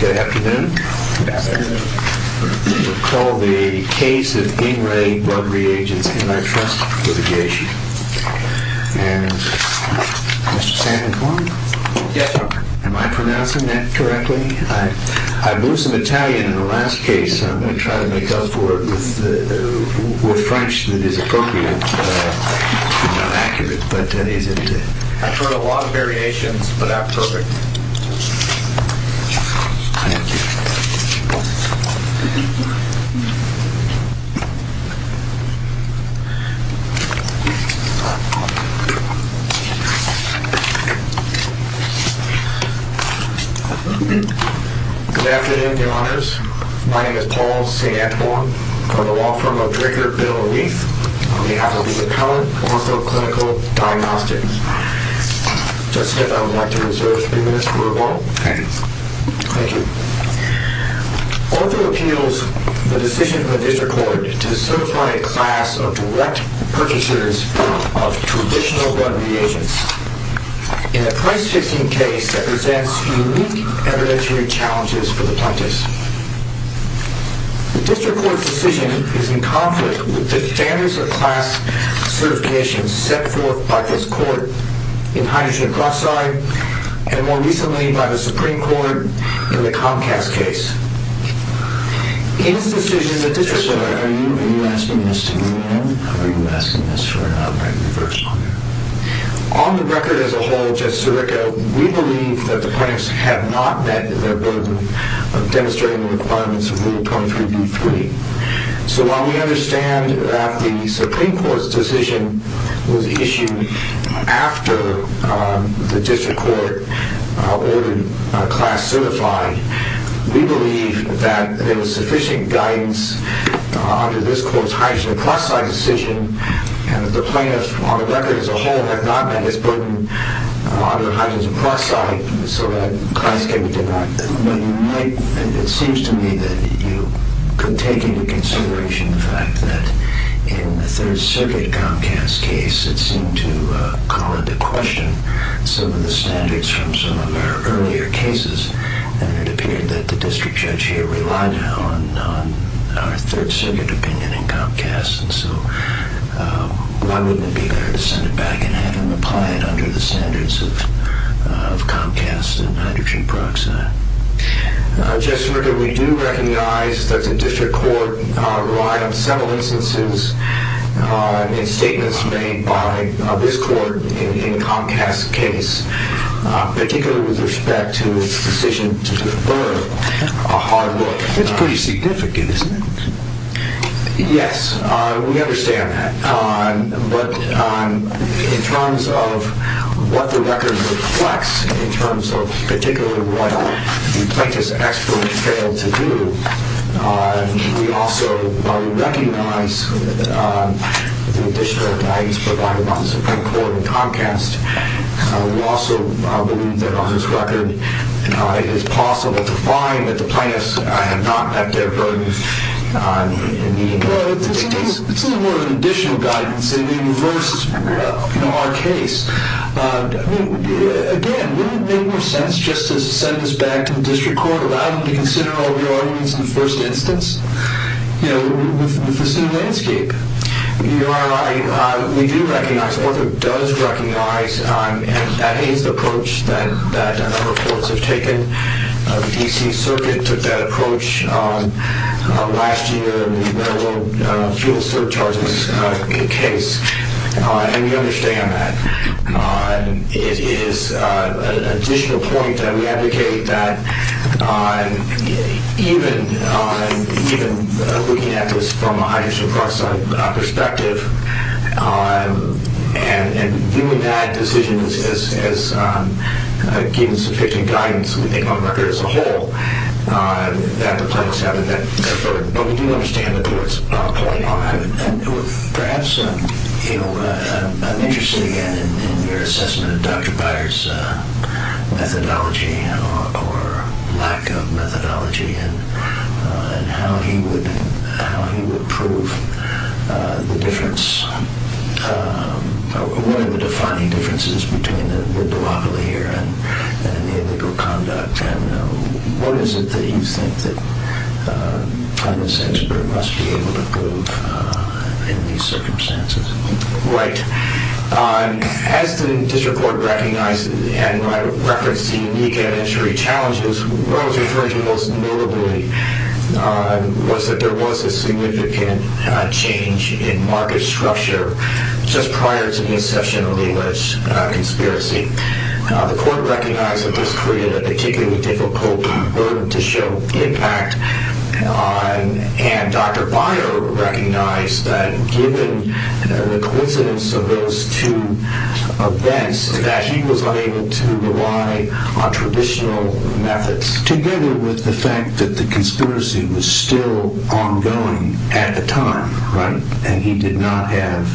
Good afternoon. Good afternoon. We'll call the case of In Re Blood Reagents Antitrust Litigation. And, Mr. Sandicone? Yes, Doctor. Am I pronouncing that correctly? I blew some Italian in the last case, so I'm going to try to make up for it with French that is appropriate. It's not accurate, but that is it. I've heard a lot of variations, but not perfect. Good afternoon, Your Honors. My name is Paul Sandicone. I'm a law firm of Dricker, Biddle, and Leith. On behalf of Lisa Cohen, also a clinical diagnostic. Justice, I would like to reserve three minutes for rebuttal. Okay. Thank you. Arthur appeals the decision of the District Court to certify a class of direct purchasers of traditional blood reagents in a price-fixing case that presents unique evidentiary challenges for the plaintiffs. The District Court's decision is in conflict with the standards of class certifications set forth by this court in Hydrogen Peroxide and, more recently, by the Supreme Court in the Comcast case. In this decision, the District Court... Sir, are you asking this to me now? Or are you asking this for an outright reversal? On the record as a whole, Justice Sirico, we believe that the plaintiffs have not met their burden of demonstrating the requirements of Rule 23b-3. So while we understand that the Supreme Court's decision was issued after the District Court ordered a class certified, we believe that there was sufficient guidance under this court's Hydrogen Peroxide decision and that the plaintiffs, on the record as a whole, have not met this burden under Hydrogen Peroxide, so that class can be denied. It seems to me that you could take into consideration the fact that in the Third Circuit Comcast case, it seemed to call into question some of the standards from some of our earlier cases, and it appeared that the District Judge here relied on our Third Circuit opinion in Comcast. So why wouldn't it be better to send it back and have him apply it under the standards of Comcast and Hydrogen Peroxide? Justice Sirico, we do recognize that the District Court relied on several instances and statements made by this court in Comcast's case, particularly with respect to its decision to defer a hard book. That's pretty significant, isn't it? Yes, we understand that. But in terms of what the record reflects, in terms of particularly what the plaintiff's experts failed to do, we also recognize the additional guidance provided by the Supreme Court in Comcast. We also believe that on this record it is possible to find that the plaintiffs have not met their burden in the case. Well, this is more than additional guidance. It may reverse our case. Again, wouldn't it make more sense just to send this back to the District Court, allow them to consider all the arguments in the first instance with the same landscape? Your Honor, we do recognize, the court does recognize, and that is the approach that our courts have taken. The D.C. Circuit took that approach last year in the railroad fuel surcharges case, and we understand that. It is an additional point that we advocate that even looking at this from a hydrogen peroxide perspective and viewing that decision as giving sufficient guidance, we think, on the record as a whole, that the plaintiffs haven't met their burden. But we do understand the court's point on that. Perhaps I'm interested again in your assessment of Dr. Byers' methodology or lack of methodology and how he would prove the difference, or one of the defining differences, between the debacle here and illegal conduct. What is it that you think that the plaintiffs' expert must be able to prove in these circumstances? Right. As the District Court recognized and referenced the unique evidentiary challenges, what I was referring to most notably was that there was a significant change in market structure just prior to the inception of the alleged conspiracy. The court recognized that this created a particularly difficult burden to show the impact on, and Dr. Byers recognized that given the coincidence of those two events, that he was unable to rely on traditional methods. Together with the fact that the conspiracy was still ongoing at the time, right, and he did not have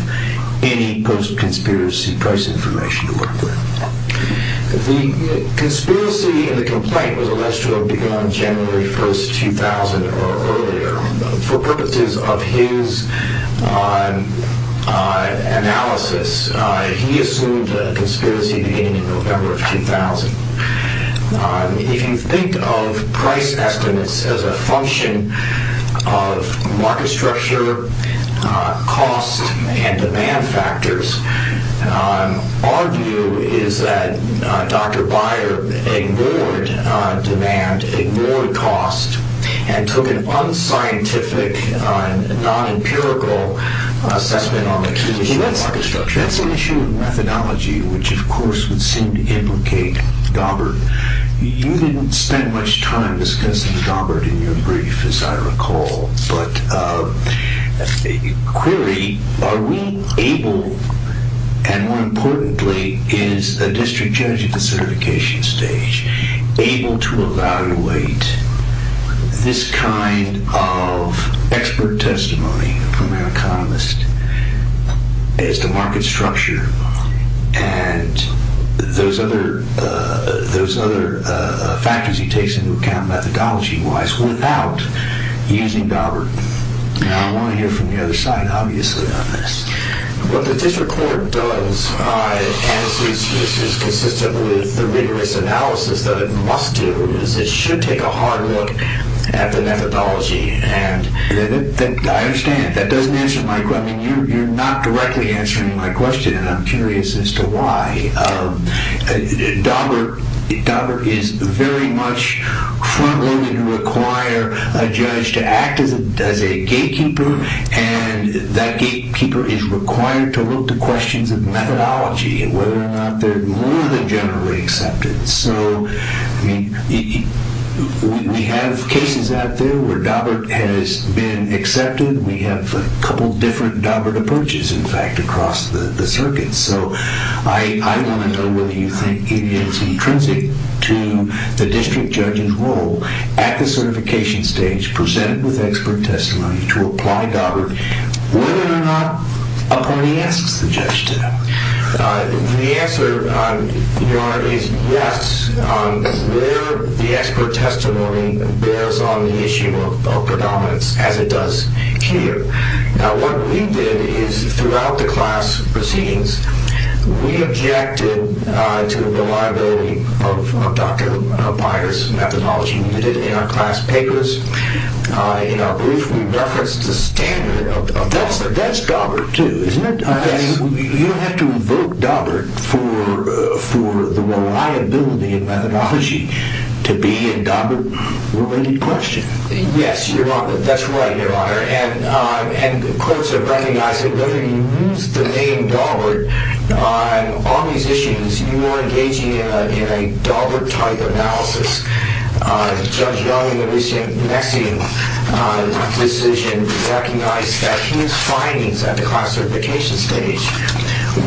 any post-conspiracy price information to work with. The conspiracy in the complaint was alleged to have begun January 1, 2000 or earlier. For purposes of his analysis, he assumed a conspiracy beginning in November of 2000. If you think of price estimates as a function of market structure, cost, and demand factors, our view is that Dr. Byers ignored demand, ignored cost, and took an unscientific, non-empirical assessment on the condition of market structure. That's an issue of methodology, which of course would seem to implicate Daubert. You didn't spend much time discussing Daubert in your brief, as I recall, but query, are we able, and more importantly, is a district judge at the certification stage, able to evaluate this kind of expert testimony from an economist as to market structure and those other factors he takes into account methodology-wise without using Daubert? Now, I want to hear from the other side, obviously, on this. What the district court does, as is consistent with the rigorous analysis that it must do, is it should take a hard look at the methodology. I understand. That doesn't answer my question. You're not directly answering my question, and I'm curious as to why. Daubert is very much front-loaded to require a judge to act as a gatekeeper, and that gatekeeper is required to look to questions of methodology and whether or not they're more than generally accepted. We have cases out there where Daubert has been accepted. We have a couple different Daubert approaches, in fact, across the circuit. I want to know whether you think it is intrinsic to the district judge's role at the certification stage, to present with expert testimony, to apply Daubert, whether or not a party asks the judge to. The answer, Your Honor, is yes, where the expert testimony bears on the issue of predominance, as it does here. Now, what we did is throughout the class proceedings, we objected to the reliability of Dr. Pires' methodology. We did it in our class papers. In our brief, we referenced the standard of Daubert. That's Daubert, too, isn't it? You have to invoke Daubert for the reliability and methodology to be a Daubert-related question. The courts have recognized that whether you use the name Daubert on all these issues, you are engaging in a Daubert-type analysis. Judge Young, in the recent Mexican decision, recognized that his findings at the class certification stage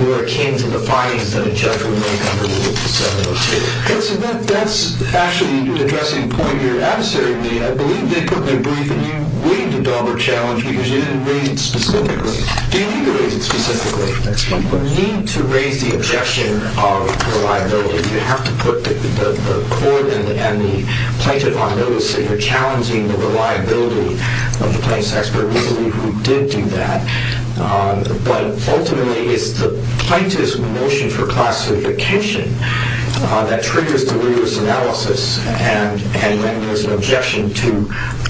were akin to the findings that a judge would make under Rule 702. That's actually an interesting point here. I believe they put in their brief that you weighed the Daubert challenge, because you didn't weigh it specifically. Do you think you weighed it specifically? You need to raise the objection of reliability. You have to put the court and the plaintiff on notice that you're challenging the reliability of the plaintiff's expert. We believe we did do that. But ultimately, it's the plaintiff's motion for class certification that triggers the rigorous analysis, and then there's an objection to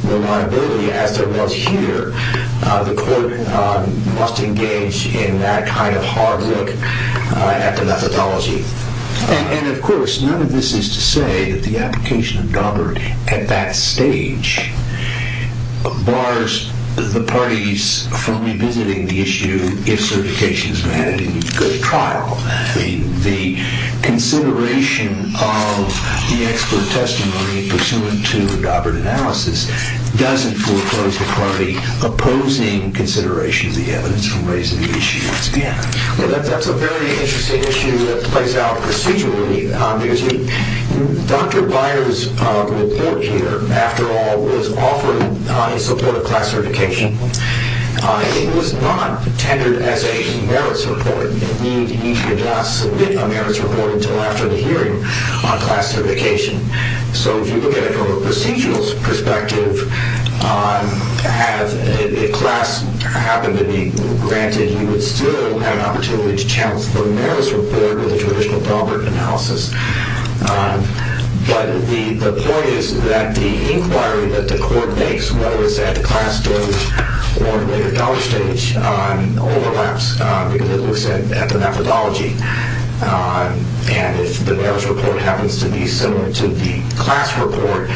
reliability, as there was here. The court must engage in that kind of hard look at the methodology. And, of course, none of this is to say that the application of Daubert at that stage bars the parties from revisiting the issue if certification is granted in a good trial. The consideration of the expert testimony pursuant to Daubert analysis doesn't foreclose the party opposing consideration of the evidence from raising the issue once again. Well, that's a very interesting issue that plays out procedurally. Dr. Byers' report here, after all, was offered in support of class certification. It was not tendered as a merit support. You need to submit a merits report until after the hearing on class certification. So if you look at it from a procedural perspective, if class happened to be granted, you would still have an opportunity to challenge the merits report with a traditional Daubert analysis. But the point is that the inquiry that the court makes, whether it's at the class stage or at the dollar stage, overlaps because it looks at the methodology. And if the merits report happens to be similar to the class report,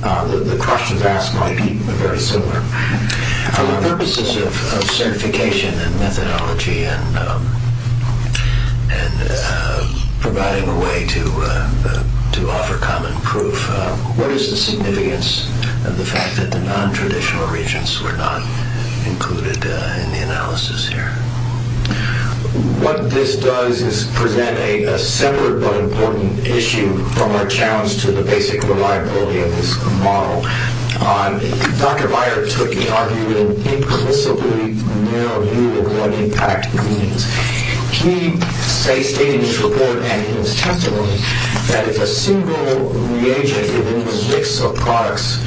the questions asked might be very similar. For the purposes of certification and methodology and providing a way to offer common proof, what is the significance of the fact that the nontraditional regions were not included in the analysis here? What this does is present a separate but important issue from our challenge to the basic reliability of this model. Dr. Byers took, he argued, an implicitly narrow view of what impact means. He stated in his report and in his testimony that if a single reagent in the mix of products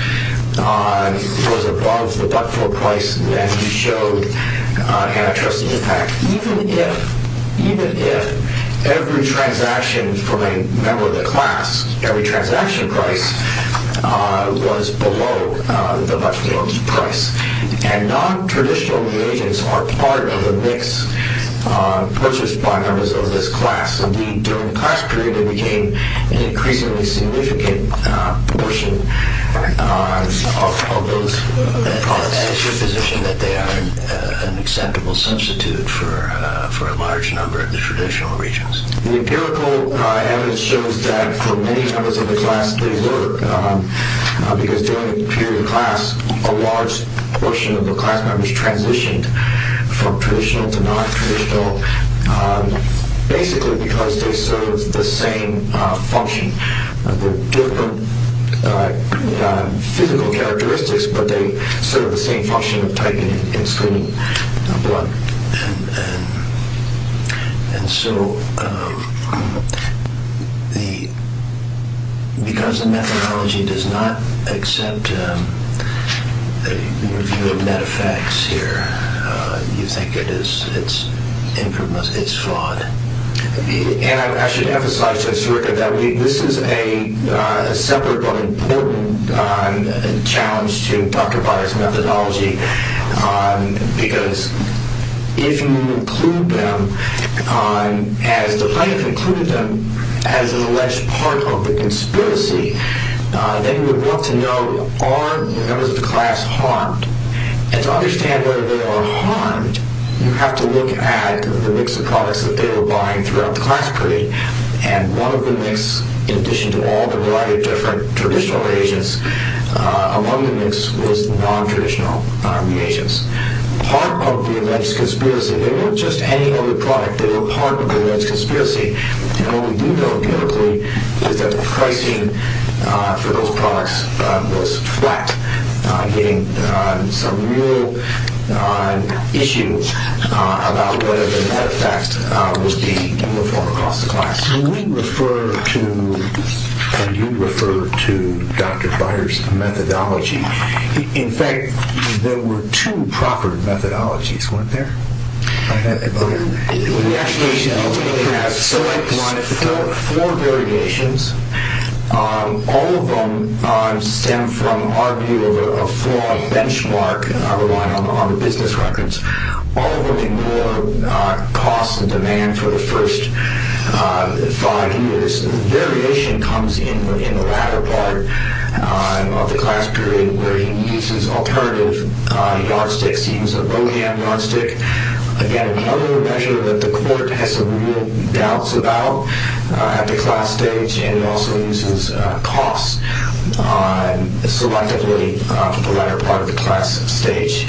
was above the buck flow price, then he showed an interest impact, even if every transaction from a member of the class, every transaction price was below the buck flow price. And nontraditional reagents are part of a mix purchased by members of this class. Indeed, during the class period, they became an increasingly significant portion of those products. And it's your position that they are an acceptable substitute for a large number of the traditional regions? The empirical evidence shows that for many members of the class, they were. Because during the period of class, a large portion of the class members transitioned from traditional to nontraditional, basically because they served the same function, different physical characteristics, but they served the same function of typing and screening blood. And so, because the methodology does not accept the review of meta-facts here, you think it's flawed? And I should emphasize to Mr. Rickert that this is a separate but important challenge to Dr. Byers' methodology, because if you include them, as the plaintiff included them as an alleged part of the conspiracy, then you would want to know, are the members of the class harmed? And to understand whether they are harmed, you have to look at the mix of products that they were buying throughout the class period. And one of the mix, in addition to all the variety of different traditional reagents among the mix, was nontraditional. Part of the alleged conspiracy, they weren't just any other product, they were part of the alleged conspiracy, and what we do know empirically is that the pricing for those products was flat, getting some real issue about whether the meta-fact was being uniform across the class. When you refer to Dr. Byers' methodology, in fact, there were two proper methodologies, weren't there? We actually have four variations, all of them stem from our view of a flawed benchmark, and I'll rewind on the business records. All of them involve costs and demand for the first five years. The variation comes in the latter part of the class period, where he uses alternative yardsticks, he uses a low-ham yardstick, again, another measure that the court has some real doubts about at the class stage, and he also uses costs selectively for the latter part of the class stage.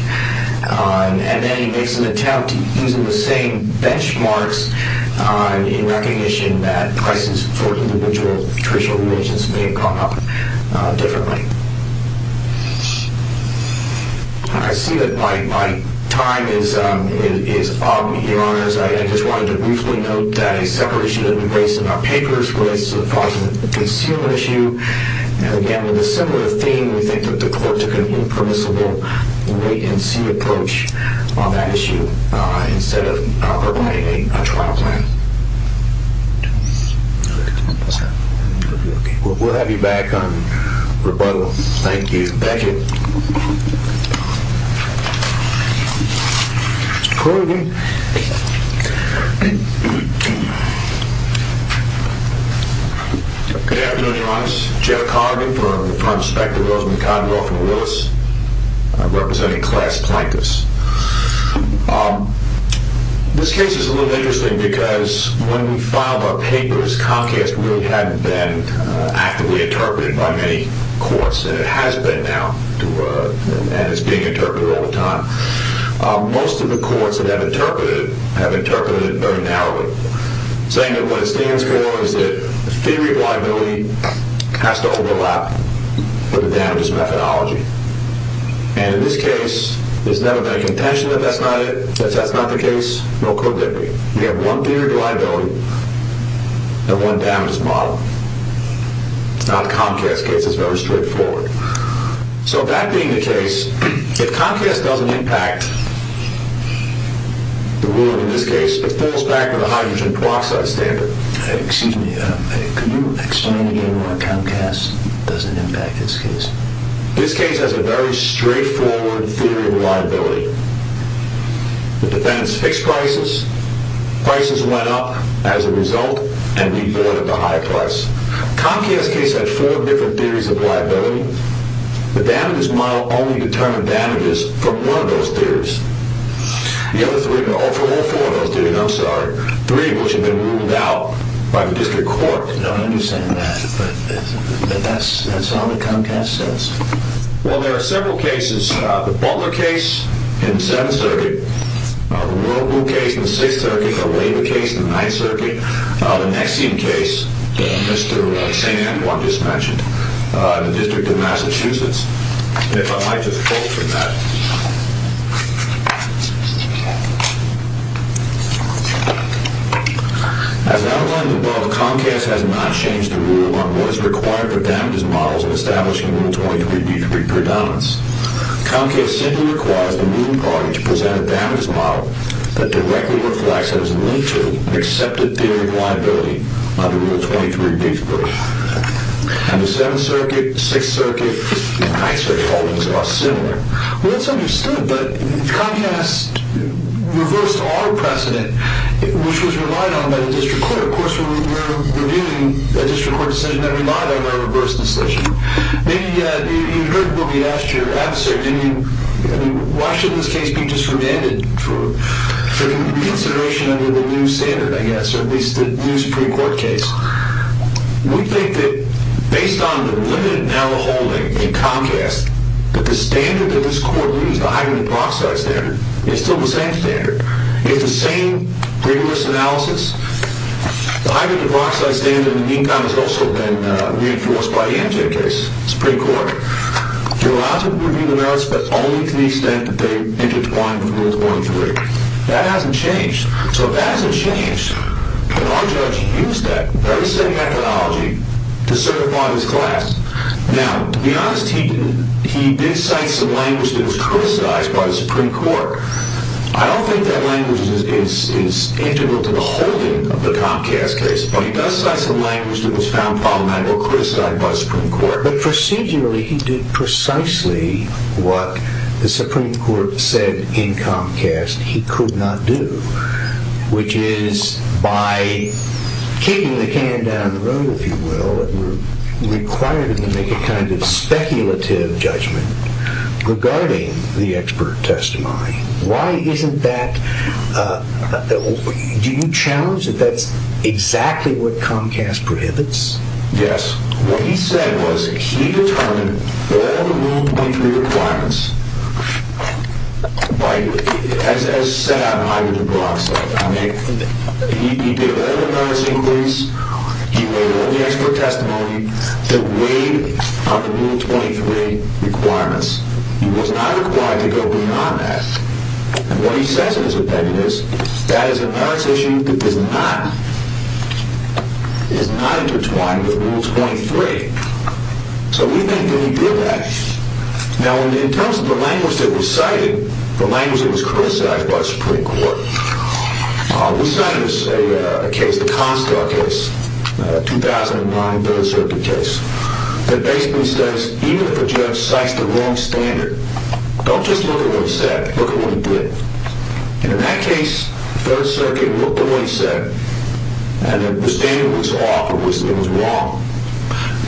And then he makes an attempt to use the same benchmarks in recognition that prices for individual traditional reagents may have come up differently. I see that my time is up, Your Honors. I just wanted to briefly note that a separate issue that we raised in our papers relates to the fraudulent concealment issue. Again, with a similar theme, we think that the court took an impermissible wait-and-see approach on that issue instead of providing a trial plan. We'll have you back on rebuttal. Thank you. Thank you. Corrigan. Good afternoon, Your Honors. Joe Corrigan from the firm Specter, Rosemond, Condwell from Willis. I'm representing Class Plankus. This case is a little interesting because when we filed our papers, Comcast really hadn't been actively interpreted by many courts, and it has been now, and it's being interpreted all the time. Most of the courts that have interpreted it have interpreted it very narrowly, saying that what it stands for is that the theory of liability has to overlap with the damages methodology. And in this case, there's never been a contention that that's not the case, nor could there be. We have one theory of liability and one damages model. It's not Comcast's case. It's very straightforward. So that being the case, if Comcast doesn't impact the ruling in this case, it falls back on the hydrogen peroxide standard. Excuse me. Could you explain again why Comcast doesn't impact this case? This case has a very straightforward theory of liability. The defendants fixed prices. Prices went up as a result, and we avoided the high price. Comcast's case had four different theories of liability. The damages model only determined damages from one of those theories. The other three, no, for all four of those theories, I'm sorry, three of which have been ruled out by the district court. I don't understand that, but that's all that Comcast says. Well, there are several cases. The Butler case in the Seventh Circuit, the Roble case in the Sixth Circuit, the Weber case in the Ninth Circuit, the Nexium case that Mr. St. Antoine just mentioned in the District of Massachusetts. If I might just quote from that. As outlined above, Comcast has not changed the rule on what is required for damages models in establishing Rule 23-B3 predominance. Comcast simply requires the ruling party to present a damages model that directly reflects its nature and accepted theory of liability under Rule 23-B3. And the Seventh Circuit, Sixth Circuit, and Ninth Circuit holdings are similar. Well, that's understood, but Comcast reversed our precedent, which was relied on by the district court. Of course, we're reviewing a district court decision that relied on our reverse decision. Maybe you heard what we asked your adversary. I mean, why should this case be disremanded for reconsideration under the new standard, I guess, or at least the new Supreme Court case? We think that based on the limited narrow-holding in Comcast, that the standard that this court leaves, the hybrid-dioxide standard, is still the same standard. It's the same rigorous analysis. The hybrid-dioxide standard in EECOM has also been reinforced by the MJ case, Supreme Court. You're allowed to review the narrows, but only to the extent that they intertwine with Rule 23. That hasn't changed. So if that hasn't changed, can our judge use that very same methodology to certify his class? Now, to be honest, he did cite some language that was criticized by the Supreme Court. I don't think that language is integral to the holding of the Comcast case, but he does cite some language that was found problematic or criticized by the Supreme Court. But procedurally, he did precisely what the Supreme Court said in Comcast he could not do, which is by kicking the can down the road, if you will, that we're required to make a kind of speculative judgment regarding the expert testimony. Why isn't that—do you challenge that that's exactly what Comcast prohibits? Yes. What he said was he determined all the Rule 23 requirements as set out in the hybrid-dioxide. I mean, he did all the analysis, he made all the expert testimony that weighed on the Rule 23 requirements. He was not required to go beyond that. And what he says in his opinion is that is a matter of issue that is not intertwined with Rule 23. So we think that he did that. Now, in terms of the language that was cited, the language that was criticized by the Supreme Court, we cited a case, the Comstar case, a 2009 Third Circuit case, that basically says even if a judge cites the wrong standard, don't just look at what he said, look at what he did. And in that case, Third Circuit looked at what he said and the standard was off, it was wrong.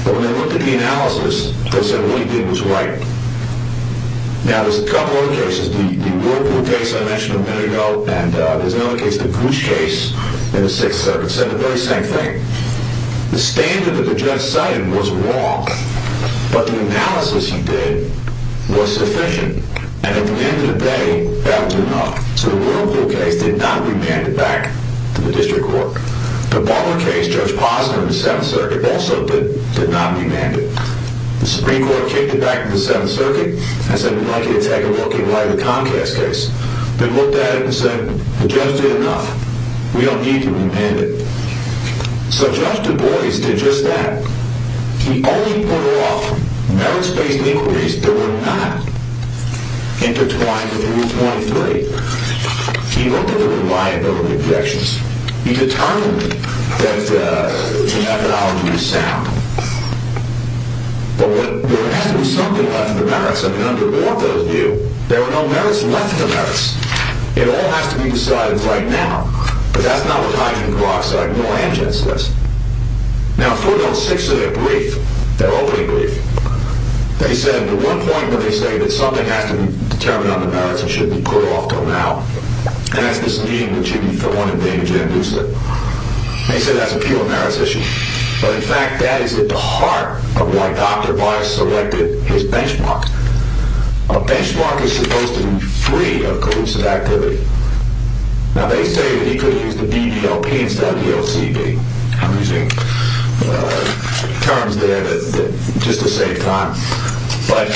But when they looked at the analysis, they said what he did was right. Now, there's a couple other cases. The Whirlpool case I mentioned a minute ago, and there's another case, the Gooch case in the Sixth Circuit, said the very same thing. The standard that the judge cited was wrong, but the analysis he did was sufficient. And at the end of the day, that was enough. So the Whirlpool case did not remand it back to the district court. The Barber case, Judge Posner in the Seventh Circuit, also did not remand it. The Supreme Court kicked it back to the Seventh Circuit and said we'd like you to take a look at the Comcast case. They looked at it and said the judge did enough. We don't need to remand it. So Judge Du Bois did just that. He only put off merits-based inquiries that were not intertwined with Rule 23. He looked at the reliability projections. He determined that the methodology was sound. But there has to be something left in the merits. I mean, under what those do, there are no merits left in the merits. It all has to be decided right now. But that's not what Hydrogen Peroxide nor Amgen says. Now, for those Sixth Circuit briefs, their opening brief, they said at one point when they say that something has to be determined on the merits and should be put off until now, and that's this need that should be put on in danger in Houston, they said that's a peel-of-merits issue. But in fact, that is at the heart of why Dr. Baez selected his benchmark. A benchmark is supposed to be free of collusive activity. Now, they say that he could have used the BBLP instead of the LCB. I'm using terms there that are just the same time. But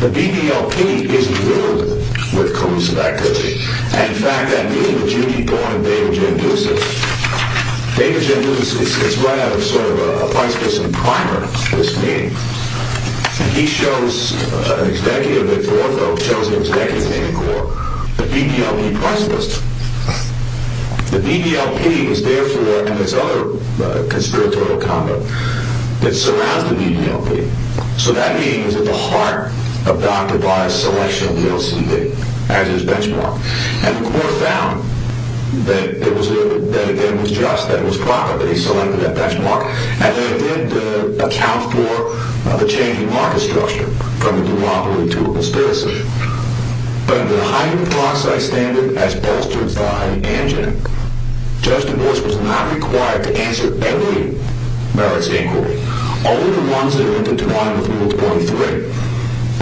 the BBLP isn't riddled with collusive activity. And in fact, that means that you need to go on and data-genduce it. Data-genduce is right out of sort of a Weisskirchen primer, this meeting. He shows an executive, a fourth or chosen executive in the court, the BBLP price list. The BBLP is therefore, and it's other conspiratorial conduct, that surrounds the BBLP. So that means that the heart of Dr. Baez's selection of the LCB as his benchmark. And the court found that it was just, that it was proper that he selected that benchmark. And that it did account for the changing market structure from a duopoly to a conspiracy. But under the Heine-Cloxide standard, as bolstered by Anjan, Judge DuBois was not required to answer any merits inquiry. Only the ones that are linked into line with Rule 23.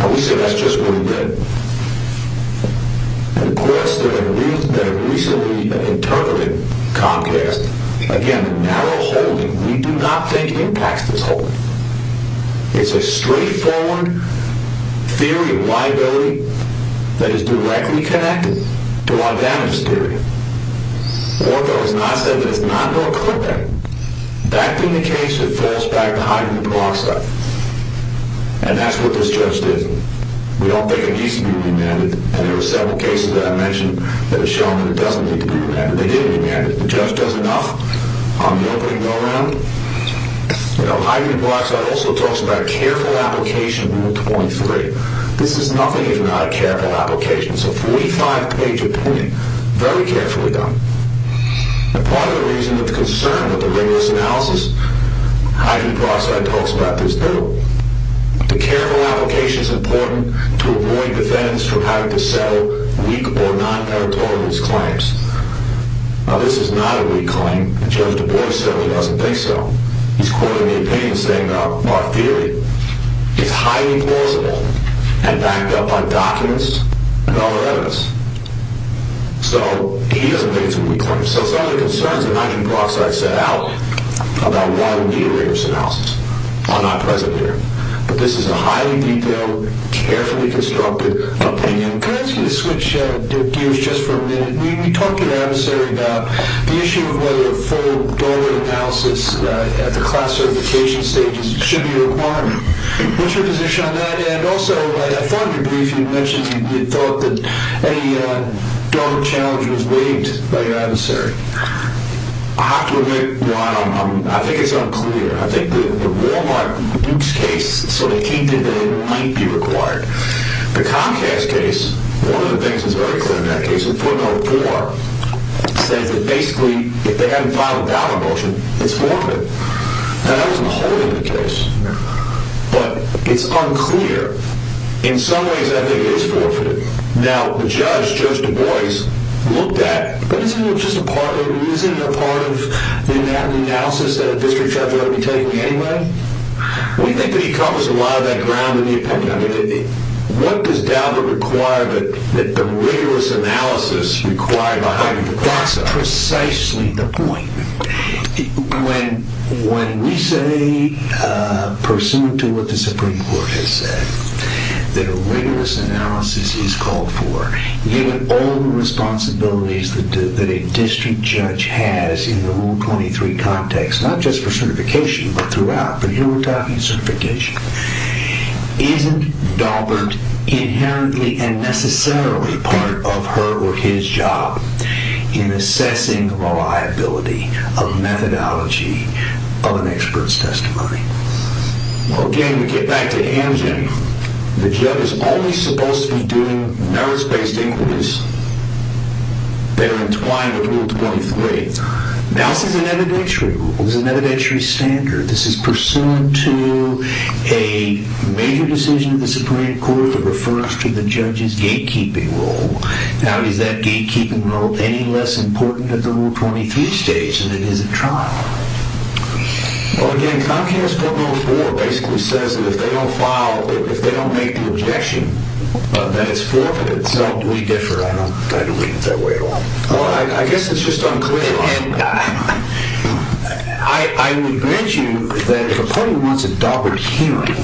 And we say that's just what he did. The courts that have recently interpreted Comcast, again, narrow-holding. We do not think Comcast is holding. It's a straight-forward theory of liability that is directly connected to our damage theory. Ortho has not said that it's not North-Clinton. That being the case, it falls back to Heine-Cloxide. And that's what this judge did. We don't think it needs to be remanded. And there were several cases that I mentioned that have shown that it doesn't need to be remanded. They didn't remand it. The judge does enough on the opening roll-round. Heine-Cloxide also talks about careful application of Rule 23. This is nothing if not a careful application. It's a 45-page opinion. Very carefully done. And part of the reason with concern with the ringless analysis, Heine-Cloxide talks about this, too. The careful application is important to avoid defendants from having to settle weak or non-territorialist claims. Now, this is not a weak claim. Judge Du Bois certainly doesn't think so. He's quoting the opinion, saying that our theory is highly plausible and backed up by documents and other evidence. So, he doesn't think it's a weak claim. So, some of the concerns that Heine-Cloxide set out about why we need a ringless analysis are not present here. But this is a highly detailed, carefully constructed opinion. Could I ask you to switch gears just for a minute? You talked to your adversary about the issue of whether a full doorway analysis at the class certification stage should be required. What's your position on that? And also, I thought in your brief you mentioned you thought that a doorway challenge was waived by your adversary. I have to admit, Ron, I think it's unclear. I think the Wal-Mart nukes case sort of hinted that it might be required. The Comcast case, one of the things that's very clear in that case, in footnote 4, says that basically, if they haven't filed a dollar motion, it's forfeit. Now, that wasn't the whole of the case. But, it's unclear. In some ways, I think it is forfeit. Now, the judge, Judge Du Bois, looked at, but isn't it just a part of it? Isn't it a part of the analysis that a district judge ought to be taking anyway? We think that he covers a lot of that ground in the appendix. What does Daubert require that the rigorous analysis require behind the classroom? That's precisely the point. When we say, pursuant to what the Supreme Court has said, that a rigorous analysis is called for, given all the responsibilities that a district judge has in the Rule 23 context, not just for certification, but throughout, but here we're talking certification, isn't Daubert inherently and necessarily part of her or his job in assessing reliability of methodology of an expert's testimony? Well, again, we get back to Hamgen. The judge is only supposed to be doing merits-based inquiries that are entwined with Rule 23. Now, this is an evidentiary rule. This is an evidentiary standard. This is pursuant to a major decision of the Supreme Court that refers to the judge's gatekeeping role. Now, is that gatekeeping role any less important at the Rule 23 stage than it is at trial? Well, again, Comcast Part No. 4 basically says that if they don't file, if they don't make the objection, then it's forfeit. So, we differ. I don't kind of read it that way at all. Well, I guess it's just unclear. I would bet you that if a party wants a Daubert hearing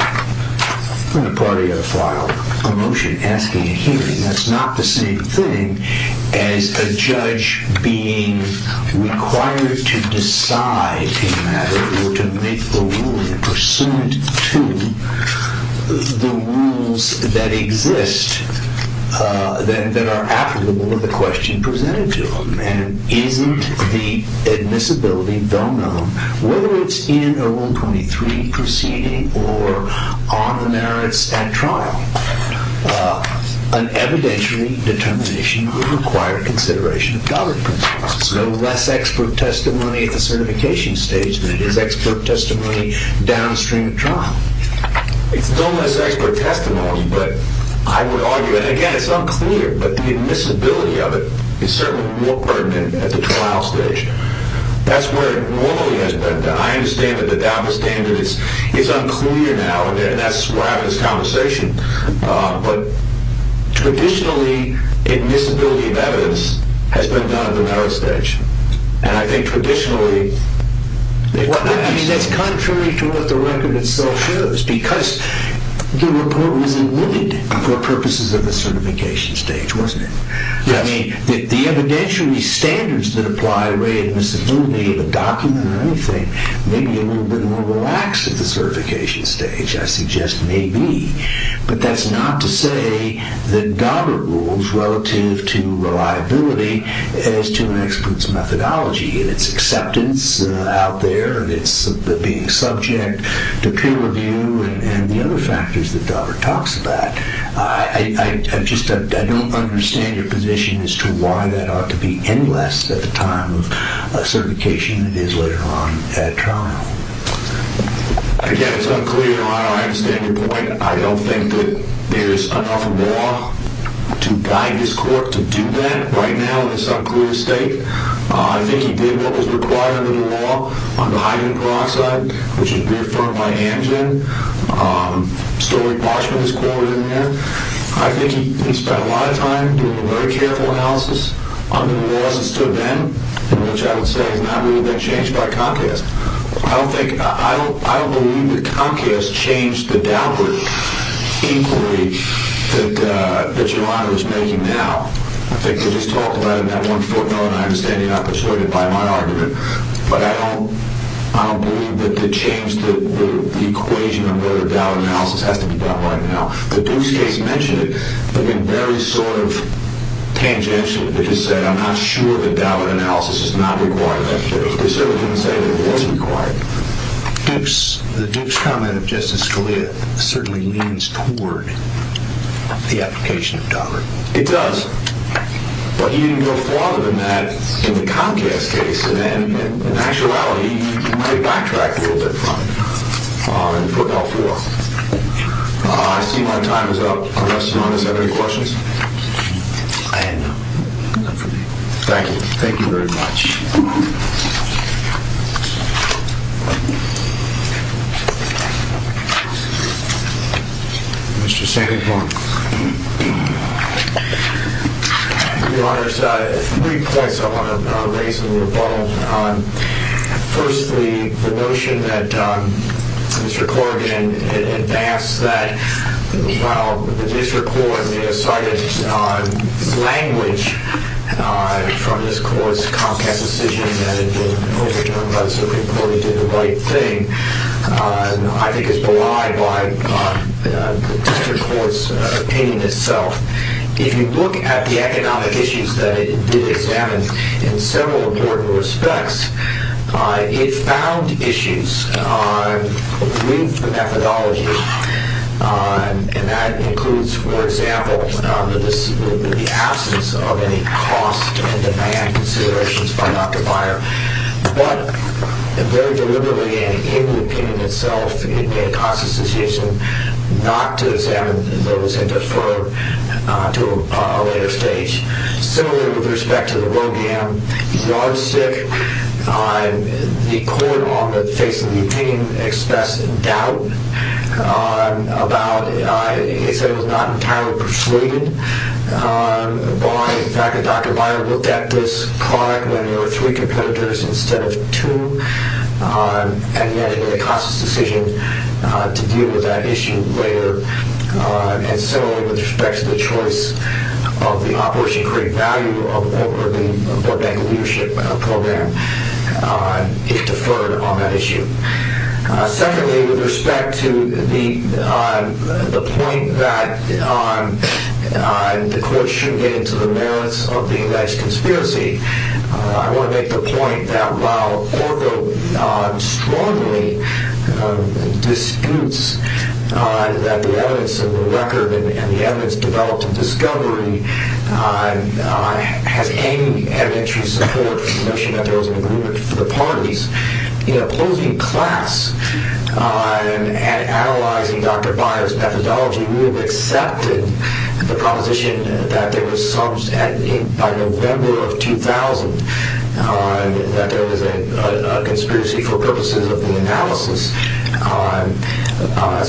and a party had to file a motion asking a hearing, that's not the same thing as a judge being required to decide a matter or to make the ruling pursuant to the rules that exist that are applicable to the question presented to them. And isn't the admissibility well-known? Whether it's in a Rule 23 proceeding or on the merits at trial, an evidentiary determination would require consideration of Daubert principles. It's no less expert testimony at the certification stage than it is expert testimony downstream at trial. It's no less expert testimony, but I would argue, and again, it's unclear, but the admissibility of it is certainly more pertinent at the trial stage. That's where it normally has been. I understand that the Daubert standard is unclear now, and that's where I have this conversation. But traditionally, admissibility of evidence has been done at the merit stage. And I think traditionally... I mean, that's contrary to what the record itself shows, because the report was omitted for purposes of the certification stage, wasn't it? Yes. I mean, the evidentiary standards that apply to the admissibility of a document or anything may be a little bit more relaxed at the certification stage. Which I suggest may be. But that's not to say that Daubert rules relative to reliability as to an expert's methodology and its acceptance out there and its being subject to peer review and the other factors that Daubert talks about. I just don't understand your position as to why that ought to be endless at the time of certification that is later on at trial. Again, it's unclear. I understand your point. I don't think that there's enough law to guide this court to do that right now in this unclear state. I think he did what was required under the law on the hydrogen peroxide, which is reaffirmed by Amgen. Story parchment is quoted in there. I think he spent a lot of time doing a very careful analysis under the laws that stood then, which I would say has not really been changed by Comcast. I don't believe that Comcast changed the Daubert inquiry that your honor is making now. I think they just talked about it in that one footnote, and I understand you're not persuaded by my argument. But I don't believe that the change, the equation under the Daubert analysis has to be done right now. The Bruce case mentioned it, but in very sort of tangential, to just say I'm not sure that Daubert analysis is not required. They certainly didn't say that it wasn't required. The Duke's comment of Justice Scalia certainly leans toward the application of Daubert. It does. But he didn't go farther than that in the Comcast case. And then in actuality, he might have backtracked a little bit from it and put it out for us. I see my time is up. Unless your honors have any questions? I have none. None for me. Thank you. Thank you very much. Mr. Sanderborn. Your honors, three points I want to raise in rebuttal. Firstly, the notion that Mr. Corrigan advanced that, while the district court may have cited language from this court's Comcast decision that it was overturned by the Supreme Court and did the right thing, I think is belied by the district court's opinion itself. If you look at the economic issues that it did examine in several important respects, it found issues with the methodology, and that includes, for example, the absence of any cost and demand considerations by Dr. Byer, but very deliberately and in the opinion itself, it made a conscious decision not to examine those and defer to a later stage. Similarly, with respect to the Rogan yardstick, the court, on the face of the opinion, expressed doubt about, it said it was not entirely persuaded by the fact that Dr. Byer looked at this card when there were three competitors instead of two, and yet it made a conscious decision to deal with that issue later. Similarly, with respect to the choice of the Operation Create Value of the Oregon Bankers Leadership Program, it deferred on that issue. Secondly, with respect to the point that the court shouldn't get into the merits of the alleged conspiracy, I want to make the point that while Orville strongly disputes that the evidence of the record and the evidence developed in discovery has any evidentiary support for the notion that there was an agreement for the parties, in opposing class and analyzing Dr. Byer's methodology, he would have accepted the proposition that there was some, by November of 2000, that there was a conspiracy for purposes of the analysis.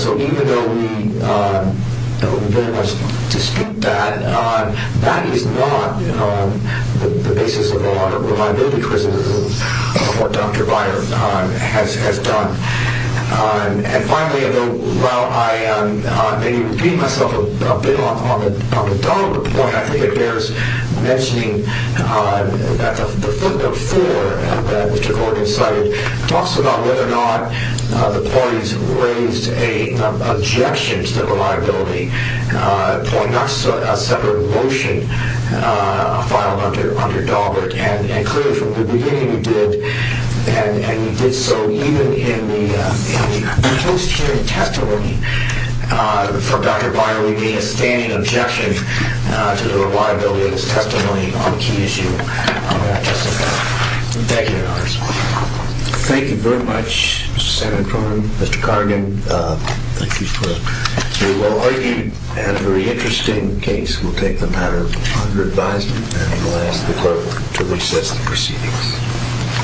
So even though we don't very much dispute that, that is not the basis of a lot of reliability criticism of what Dr. Byer has done. And finally, while I maybe repeat myself a bit on the Dahlberg point, I think it bears mentioning that the footnote 4 that Mr. Gordon cited talks about whether or not the parties raised an objection to the reliability point, not a separate motion filed under Dahlberg. And clearly, from the beginning, he did. And he did so even in the post-hearing testimony for Dr. Byer leaving a standing objection to the reliability of his testimony on a key issue. Thank you, Your Honor. Thank you very much, Senator Cronin, Mr. Cargan. Thank you, sir. We will argue a very interesting case. We'll take the matter under advisement and we'll ask the clerk to reset the proceedings.